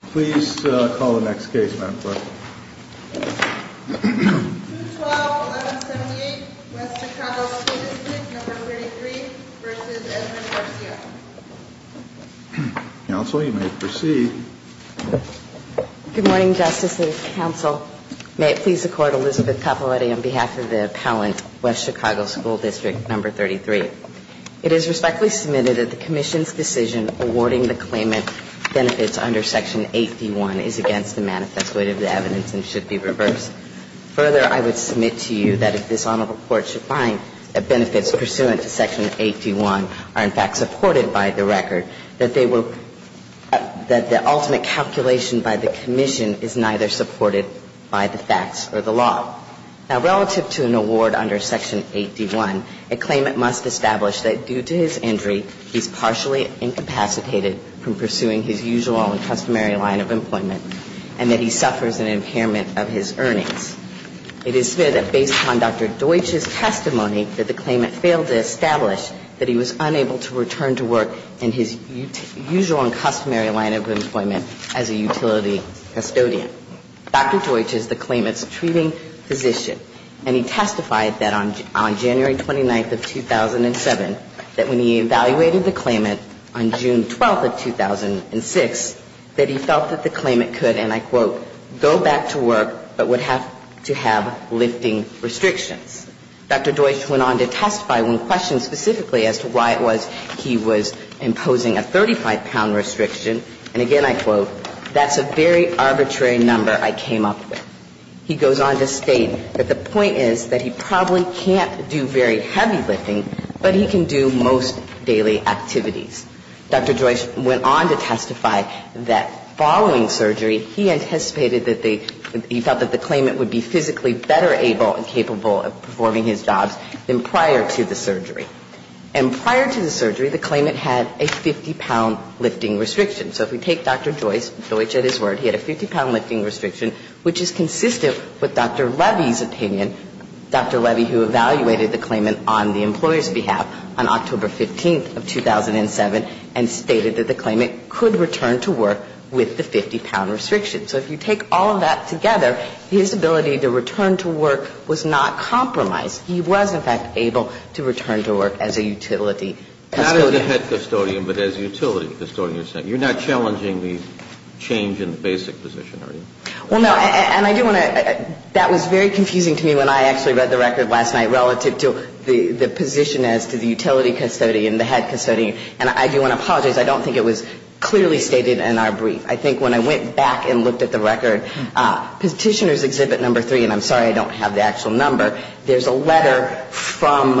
Please call the next case, ma'am. 212-1178, West Chicago School District No. 33 v. Edmund Garcia. Counsel, you may proceed. Good morning, Justice and counsel. May it please the Court, Elizabeth Capiloutti on behalf of the appellant, West Chicago School District No. 33. It is respectfully submitted that the Commission's decision awarding the claimant benefits under Section 8D1 is against the manifest weight of the evidence and should be reversed. Further, I would submit to you that if this Honorable Court should find that benefits pursuant to Section 8D1 are in fact supported by the record, that they will – that the ultimate calculation by the Commission is neither supported by the facts or the law. Now, relative to an award under Section 8D1, a claimant must establish that due to his injury, he's partially incapacitated from pursuing his usual and customary line of employment and that he suffers an impairment of his earnings. It is fair that based on Dr. Deutsch's testimony that the claimant failed to establish that he was unable to return to work in his usual and customary line of employment as a utility custodian. Dr. Deutsch is the claimant's treating physician, and he testified that on January 29th of 2007, that when he evaluated the claimant on June 12th of 2006, that he felt that the claimant could, and I quote, go back to work, but would have to have lifting restrictions. Dr. Deutsch went on to testify when questioned specifically as to why it was he was imposing a 35-pound restriction, and again I quote, that's a very arbitrary number I came up with. He goes on to state that the point is that he probably can't do very heavy lifting, but he can do most daily activities. Dr. Deutsch went on to testify that following surgery, he anticipated that the – he felt that the claimant would be physically better able and capable of performing his jobs than prior to the surgery. And prior to the surgery, the claimant had a 50-pound lifting restriction. So if we take Dr. Deutsch at his word, he had a 50-pound lifting restriction, which is consistent with Dr. Levy's opinion. Dr. Levy, who evaluated the claimant on the employer's behalf on October 15th of 2007 and stated that the claimant could return to work with the 50-pound restriction. So if you take all of that together, his ability to return to work was not compromised. He was, in fact, able to return to work as a utility custodian. Not as a head custodian, but as a utility custodian. You're not challenging the change in the basic position, are you? Well, no. And I do want to – that was very confusing to me when I actually read the record last night relative to the position as to the utility custodian, the head custodian. And I do want to apologize. I don't think it was clearly stated in our brief. I think when I went back and looked at the record, Petitioner's Exhibit No. 3, and I'm sorry I don't have the actual number, there's a letter from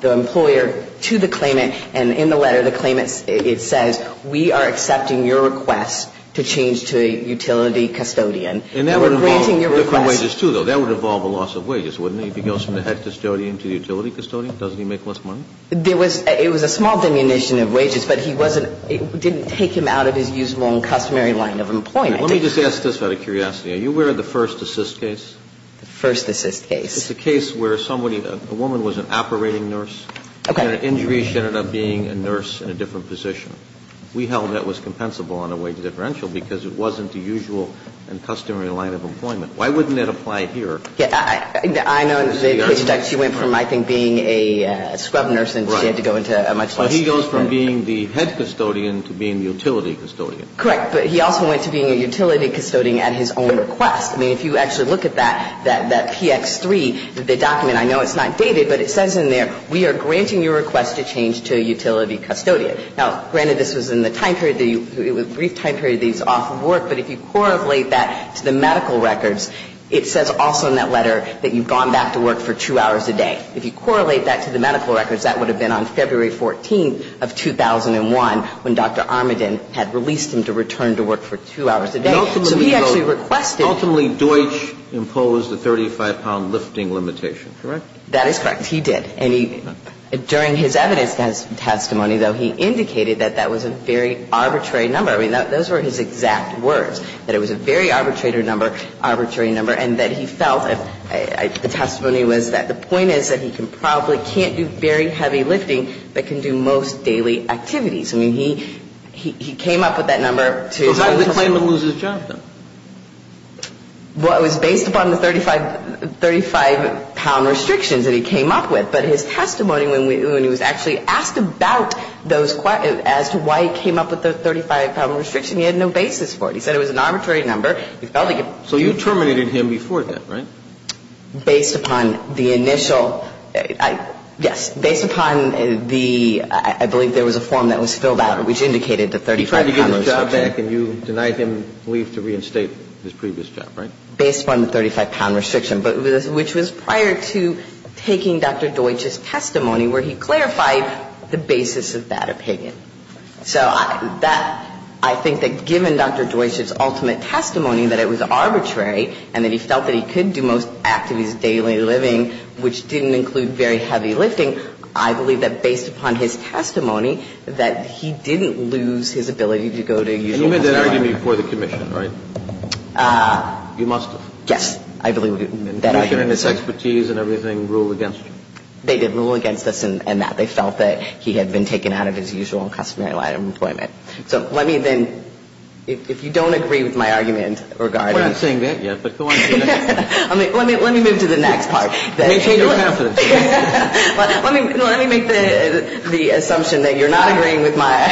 the employer to the claimant. And in the letter, the claimant, it says, we are accepting your request to change to a utility custodian. And we're granting your request. And that would involve different wages, too, though. That would involve a loss of wages, wouldn't it? If he goes from the head custodian to the utility custodian, doesn't he make less money? There was – it was a small diminution of wages, but he wasn't – it didn't take him out of his usual and customary line of employment. Let me just ask this out of curiosity. Are you aware of the first assist case? The first assist case. It's a case where somebody – a woman was an operating nurse. Okay. And an injury, she ended up being a nurse in a different position. We held that was compensable on a wage differential because it wasn't the usual and customary line of employment. Why wouldn't that apply here? Yeah. I know that she went from, I think, being a scrub nurse and she had to go into a much less – So he goes from being the head custodian to being the utility custodian. Right. But he also went to being a utility custodian at his own request. I mean, if you actually look at that, that PX3, the document, I know it's not dated, but it says in there, we are granting your request to change to a utility custodian. Now, granted, this was in the time period that you – it was a brief time period that he was off of work, but if you correlate that to the medical records, it says also in that letter that you've gone back to work for two hours a day. If you correlate that to the medical records, that would have been on February 14th of 2001 when Dr. Armaden had released him to return to work for two hours a day. So he actually requested – Ultimately, Deutsch imposed a 35-pound lifting limitation, correct? That is correct. He did. And he – during his evidence testimony, though, he indicated that that was a very arbitrary number. I mean, those were his exact words, that it was a very arbitrary number and that he felt, the testimony was that the point is that he probably can't do very heavy lifting, but can do most daily activities. I mean, he came up with that number to – But why did he claim to lose his job, then? Well, it was based upon the 35-pound restrictions that he came up with. But his testimony when he was actually asked about those – as to why he came up with the 35-pound restriction, he had no basis for it. He said it was an arbitrary number. He felt like it – So you terminated him before that, right? Based upon the initial – yes. Based upon the – I believe there was a form that was filled out which indicated the 35-pound restriction. He tried to get his job back and you denied him relief to reinstate his previous job, right? Based upon the 35-pound restriction, but which was prior to taking Dr. Deutsch's testimony where he clarified the basis of that opinion. So that – I think that given Dr. Deutsch's ultimate testimony that it was arbitrary and that he felt that he could do most activities of daily living, which didn't include very heavy lifting, I believe that based upon his testimony that he didn't lose his ability to go to a usual – And you made that argument before the commission, right? You must have. Yes. I believe that argument was – Commission and its expertise and everything ruled against you. They did rule against us in that. They felt that he had been taken out of his usual customary line of employment. So let me then – if you don't agree with my argument regarding – We're not saying that yet, but go on. Let me move to the next part. Maintain your confidence. Let me make the assumption that you're not agreeing with my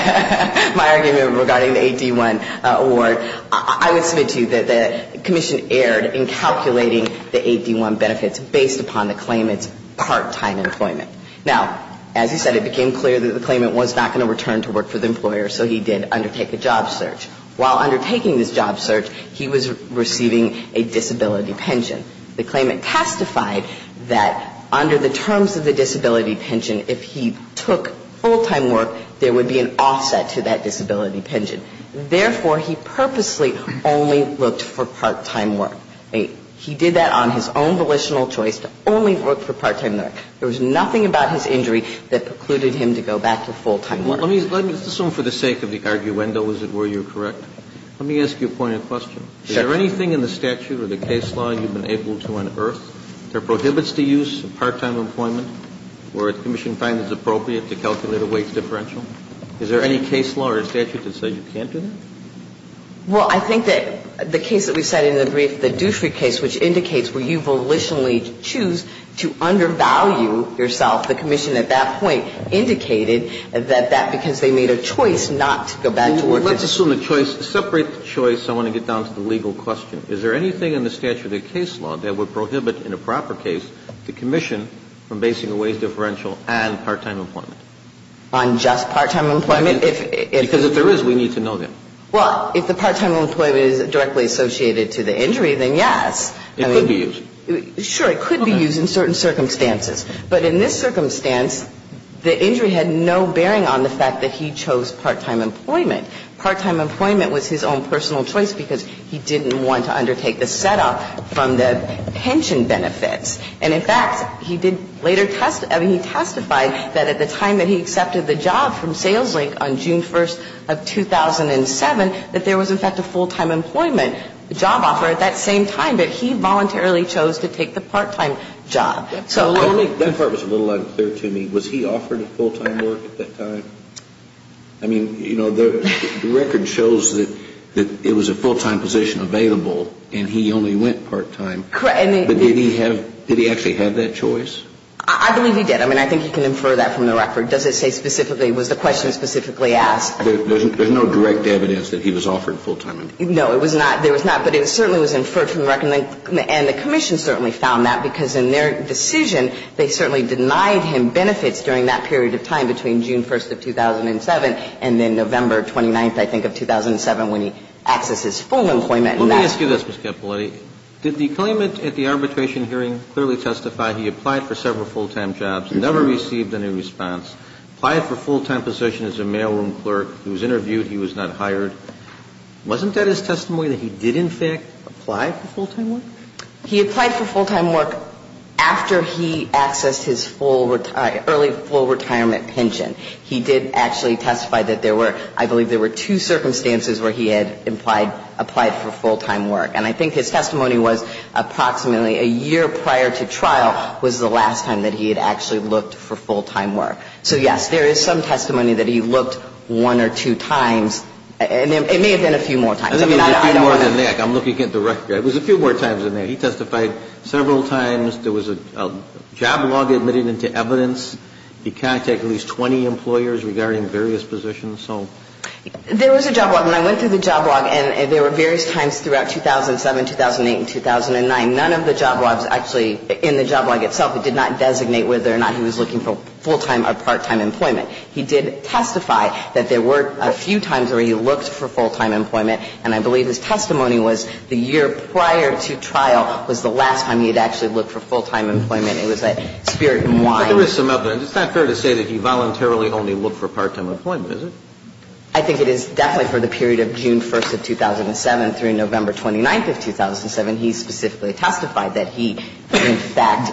argument regarding the AD-1 award. I would submit to you that the commission erred in calculating the AD-1 benefits based upon the claimant's part-time employment. Now, as you said, it became clear that the claimant was not going to return to work for the employer, so he did undertake a job search. While undertaking this job search, he was receiving a disability pension. The claimant testified that under the terms of the disability pension, if he took full-time work, there would be an offset to that disability pension. Therefore, he purposely only looked for part-time work. He did that on his own volitional choice to only look for part-time work. There was nothing about his injury that precluded him to go back to full-time Let me assume for the sake of the arguendo, is it where you're correct? Let me ask you a point of question. Is there anything in the statute or the case law you've been able to unearth that prohibits the use of part-time employment where the commission finds it appropriate to calculate a wage differential? Is there any case law or statute that says you can't do that? Well, I think that the case that we cited in the brief, the Dutry case, which indicates where you volitionally choose to undervalue yourself, the commission at that point indicated that that because they made a choice not to go back to work. Let's assume a choice, a separate choice. I want to get down to the legal question. Is there anything in the statute or the case law that would prohibit in a proper case the commission from basing a wage differential on part-time employment? On just part-time employment? Because if there is, we need to know that. Well, if the part-time employment is directly associated to the injury, then yes. It could be used. Sure. It could be used in certain circumstances. But in this circumstance, the injury had no bearing on the fact that he chose part-time employment. Part-time employment was his own personal choice because he didn't want to undertake the setup from the pension benefits. And, in fact, he did later testify that at the time that he accepted the job from Sales Link on June 1st of 2007, that there was, in fact, a full-time employment job offer at that same time. But he voluntarily chose to take the part-time job. That part was a little unclear to me. Was he offered full-time work at that time? I mean, you know, the record shows that it was a full-time position available and he only went part-time. Correct. But did he actually have that choice? I believe he did. I mean, I think you can infer that from the record. Does it say specifically, was the question specifically asked? There's no direct evidence that he was offered full-time employment. No, there was not. But it certainly was inferred from the record. And the Commission certainly found that, because in their decision, they certainly denied him benefits during that period of time between June 1st of 2007 and then November 29th, I think, of 2007, when he accessed his full employment. Let me ask you this, Ms. Cappelletti. Did the claimant at the arbitration hearing clearly testify he applied for several full-time jobs, never received any response, applied for a full-time position as a mailroom clerk, he was interviewed, he was not hired? Wasn't that his testimony, that he did, in fact, apply for full-time work? He applied for full-time work after he accessed his early full retirement pension. He did actually testify that there were, I believe, there were two circumstances where he had applied for full-time work. And I think his testimony was approximately a year prior to trial was the last time that he had actually looked for full-time work. So, yes, there is some testimony that he looked one or two times. And it may have been a few more times. I mean, I don't know. I think it was a few more than that. I'm looking at the record. It was a few more times than that. He testified several times. There was a job log admitted into evidence. He contacted at least 20 employers regarding various positions. There was a job log, and I went through the job log, and there were various times throughout 2007, 2008, and 2009. None of the job logs actually, in the job log itself, it did not designate whether or not he was looking for full-time or part-time employment. He did testify that there were a few times where he looked for full-time employment. And I believe his testimony was the year prior to trial was the last time he had actually looked for full-time employment. It was a spirit and wine. But there is some other. It's not fair to say that he voluntarily only looked for part-time employment, is it? I think it is definitely for the period of June 1st of 2007 through November 29th of 2007, he specifically testified that he, in fact,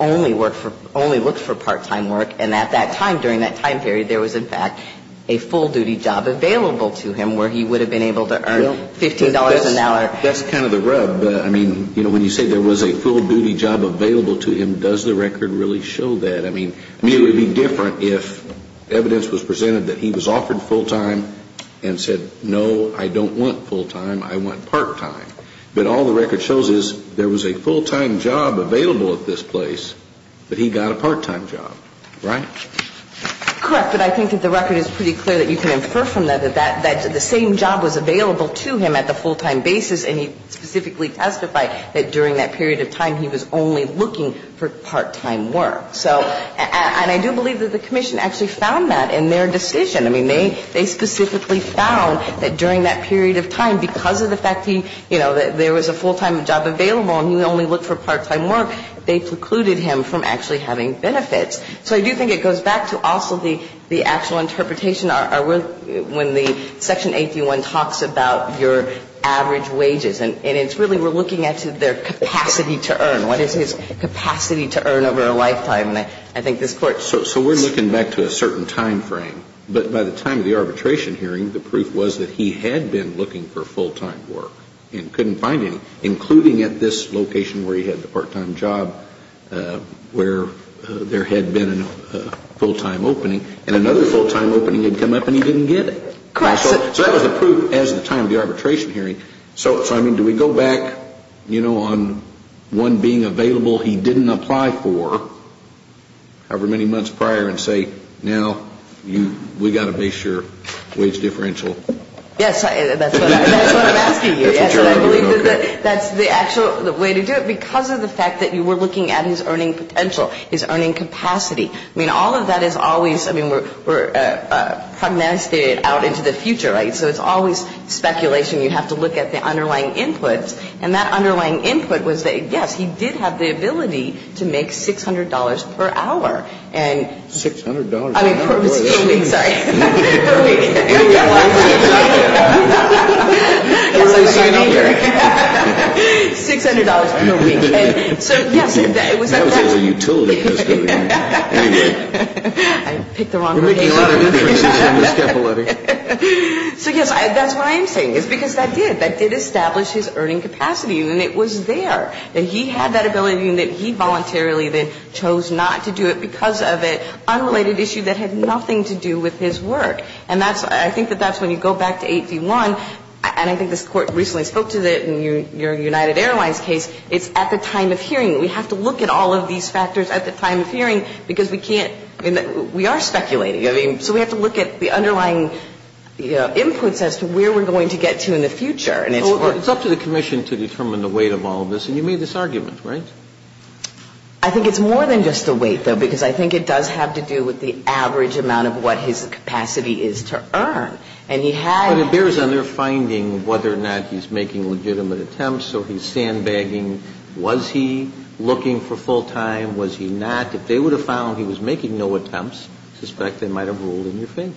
only worked for, only looked for part-time work. And at that time, during that time period, there was, in fact, a full-duty job available to him where he would have been able to earn $15 an hour. That's kind of the rub. I mean, you know, when you say there was a full-duty job available to him, does the record really show that? I mean, it would be different if evidence was presented that he was offered full-time and said, no, I don't want full-time, I want part-time. But all the record shows is there was a full-time job available at this place, but he got a part-time job. Right? Correct. But I think that the record is pretty clear that you can infer from that that the same job was available to him at the full-time basis, and he specifically testified that during that period of time he was only looking for part-time work. So, and I do believe that the Commission actually found that in their decision. I mean, they specifically found that during that period of time, because of the fact he, you know, there was a full-time job available and he only looked for part-time work, they precluded him from actually having benefits. So I do think it goes back to also the actual interpretation. When the Section 81 talks about your average wages, and it's really we're looking at their capacity to earn. What is his capacity to earn over a lifetime? And I think this Court should. So we're looking back to a certain time frame. But by the time of the arbitration hearing, the proof was that he had been looking for full-time work and couldn't find any. Including at this location where he had the part-time job where there had been a full-time opening, and another full-time opening had come up and he didn't get it. Correct. So that was the proof as of the time of the arbitration hearing. So, I mean, do we go back, you know, on one being available he didn't apply for however many months prior and say, now we've got to base your wage differential? Yes. That's what I'm asking you. Yes. And I believe that's the actual way to do it because of the fact that you were looking at his earning potential, his earning capacity. I mean, all of that is always, I mean, we're prognosticating out into the future, right? So it's always speculation. You have to look at the underlying inputs. And that underlying input was that, yes, he did have the ability to make $600 per hour. And ---- $600. I mean, per week. Sorry. Per week. $600 per week. So, yes, it was ---- That was all a utility custodian. I picked the wrong person. You're making a lot of inferences here, Ms. Cappelletti. So, yes, that's what I am saying is because that did, that did establish his earning capacity and it was there that he had that ability and that he voluntarily then chose not to do it because of an unrelated issue that had nothing to do with his work. And that's, I think that that's when you go back to 8D1, and I think this Court recently spoke to it in your United Airlines case, it's at the time of hearing. We have to look at all of these factors at the time of hearing because we can't, I mean, we are speculating. I mean, so we have to look at the underlying inputs as to where we're going to get to in the future. And it's for ---- Well, it's up to the commission to determine the weight of all of this. And you made this argument, right? I think it's more than just the weight, though, because I think it does have to do with the average amount of what his capacity is to earn. And he had ---- But it bears on their finding whether or not he's making legitimate attempts or he's sandbagging. Was he looking for full-time? Was he not? If they would have found he was making no attempts, I suspect they might have ruled in your favor.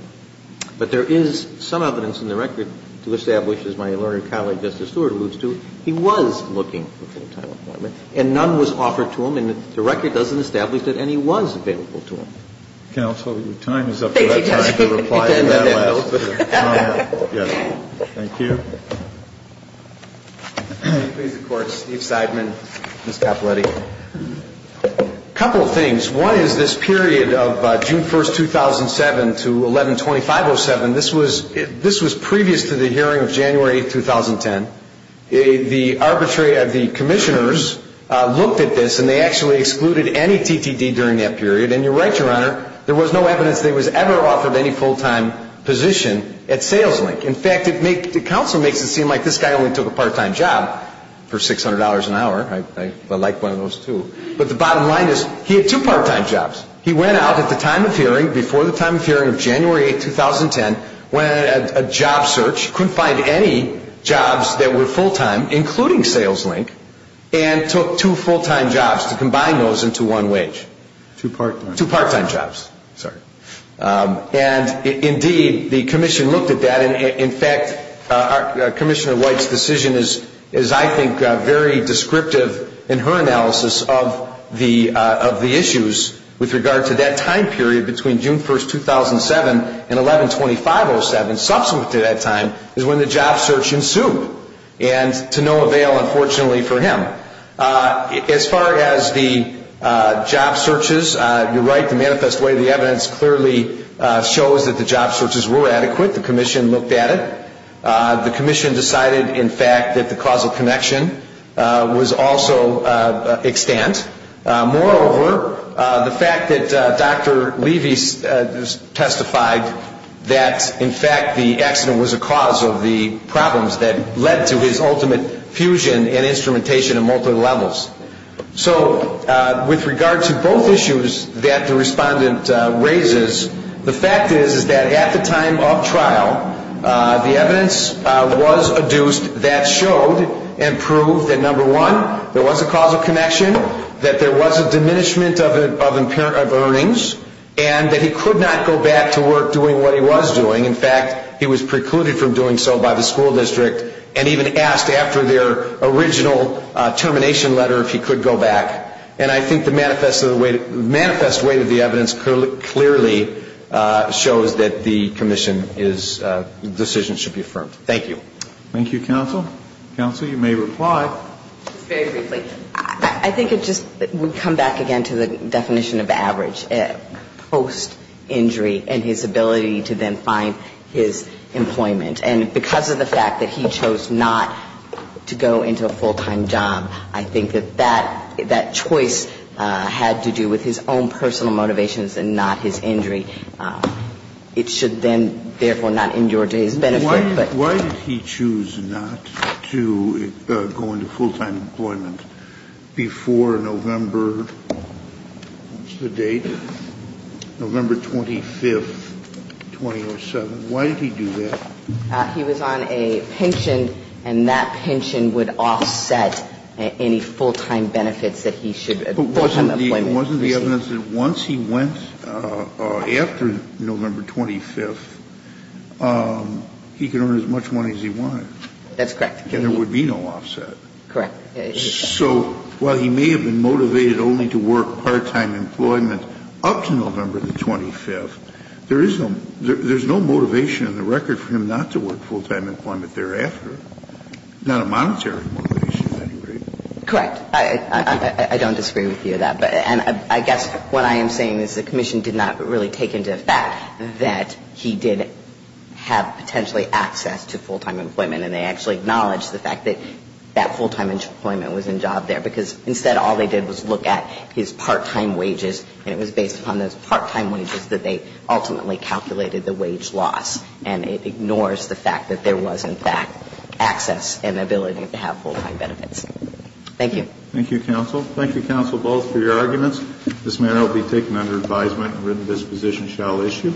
But there is some evidence in the record to establish, as my learned colleague Justice Stewart alludes to, he was looking for full-time employment. And none was offered to him. And the record doesn't establish that any was available to him. Counsel, your time is up. Thank you, Justice. You can end that note. Yes. Thank you. Please, the Court. Steve Seidman, Ms. Capoletti. A couple of things. One is this period of June 1, 2007, to 11-2507, this was previous to the hearing of January 8, 2010. The arbitrary of the commissioners looked at this and they actually excluded any TTD during that period. And you're right, Your Honor, there was no evidence that he was ever offered any full-time position at Sales Link. In fact, the counsel makes it seem like this guy only took a part-time job for $600 an hour. I like one of those, too. But the bottom line is he had two part-time jobs. He went out at the time of hearing, before the time of hearing of January 8, 2010, went on a job search, couldn't find any jobs that were full-time, including Sales Link, and took two full-time jobs to combine those into one wage. Two part-time. Two part-time jobs. Sorry. And, indeed, the commission looked at that. In fact, Commissioner White's decision is, I think, very descriptive in her analysis of the issues with regard to that time period between June 1, 2007 and 11-25-07, subsequent to that time, is when the job search ensued. And to no avail, unfortunately, for him. As far as the job searches, you're right, the manifest way the evidence clearly shows that the job searches were adequate. The commission looked at it. The commission decided, in fact, that the causal connection was also extant. Moreover, the fact that Dr. Levy testified that, in fact, the accident was a cause of the problems that led to his ultimate fusion and instrumentation of multiple levels. So, with regard to both issues that the respondent raises, the fact is, is that at the time of trial, the evidence was adduced that showed and proved that, number one, that there was a diminishment of earnings and that he could not go back to work doing what he was doing. In fact, he was precluded from doing so by the school district and even asked after their original termination letter if he could go back. And I think the manifest way that the evidence clearly shows that the commission is, the decision should be affirmed. Thank you. Thank you, counsel. Counsel, you may reply. Just very briefly. I think it just would come back again to the definition of average post-injury and his ability to then find his employment. And because of the fact that he chose not to go into a full-time job, I think that that choice had to do with his own personal motivations and not his injury. It should then, therefore, not endure to his benefit. Why did he choose not to go into full-time employment before November? What's the date? November 25th, 2007. Why did he do that? He was on a pension, and that pension would offset any full-time benefits that he should have. But wasn't the evidence that once he went after November 25th, he could earn as much money as he wanted? That's correct. And there would be no offset. Correct. So while he may have been motivated only to work part-time employment up to November the 25th, there is no motivation on the record for him not to work full-time employment thereafter, not a monetary motivation at any rate. Correct. I don't disagree with you on that. And I guess what I am saying is the Commission did not really take into effect that he did have potentially access to full-time employment. And they actually acknowledged the fact that that full-time employment was in job there, because instead all they did was look at his part-time wages, and it was based upon those part-time wages that they ultimately calculated the wage loss. And it ignores the fact that there was, in fact, access and ability to have full-time benefits. Thank you. Thank you, counsel. Thank you, counsel, both, for your arguments. This matter will be taken under advisement and written disposition shall issue.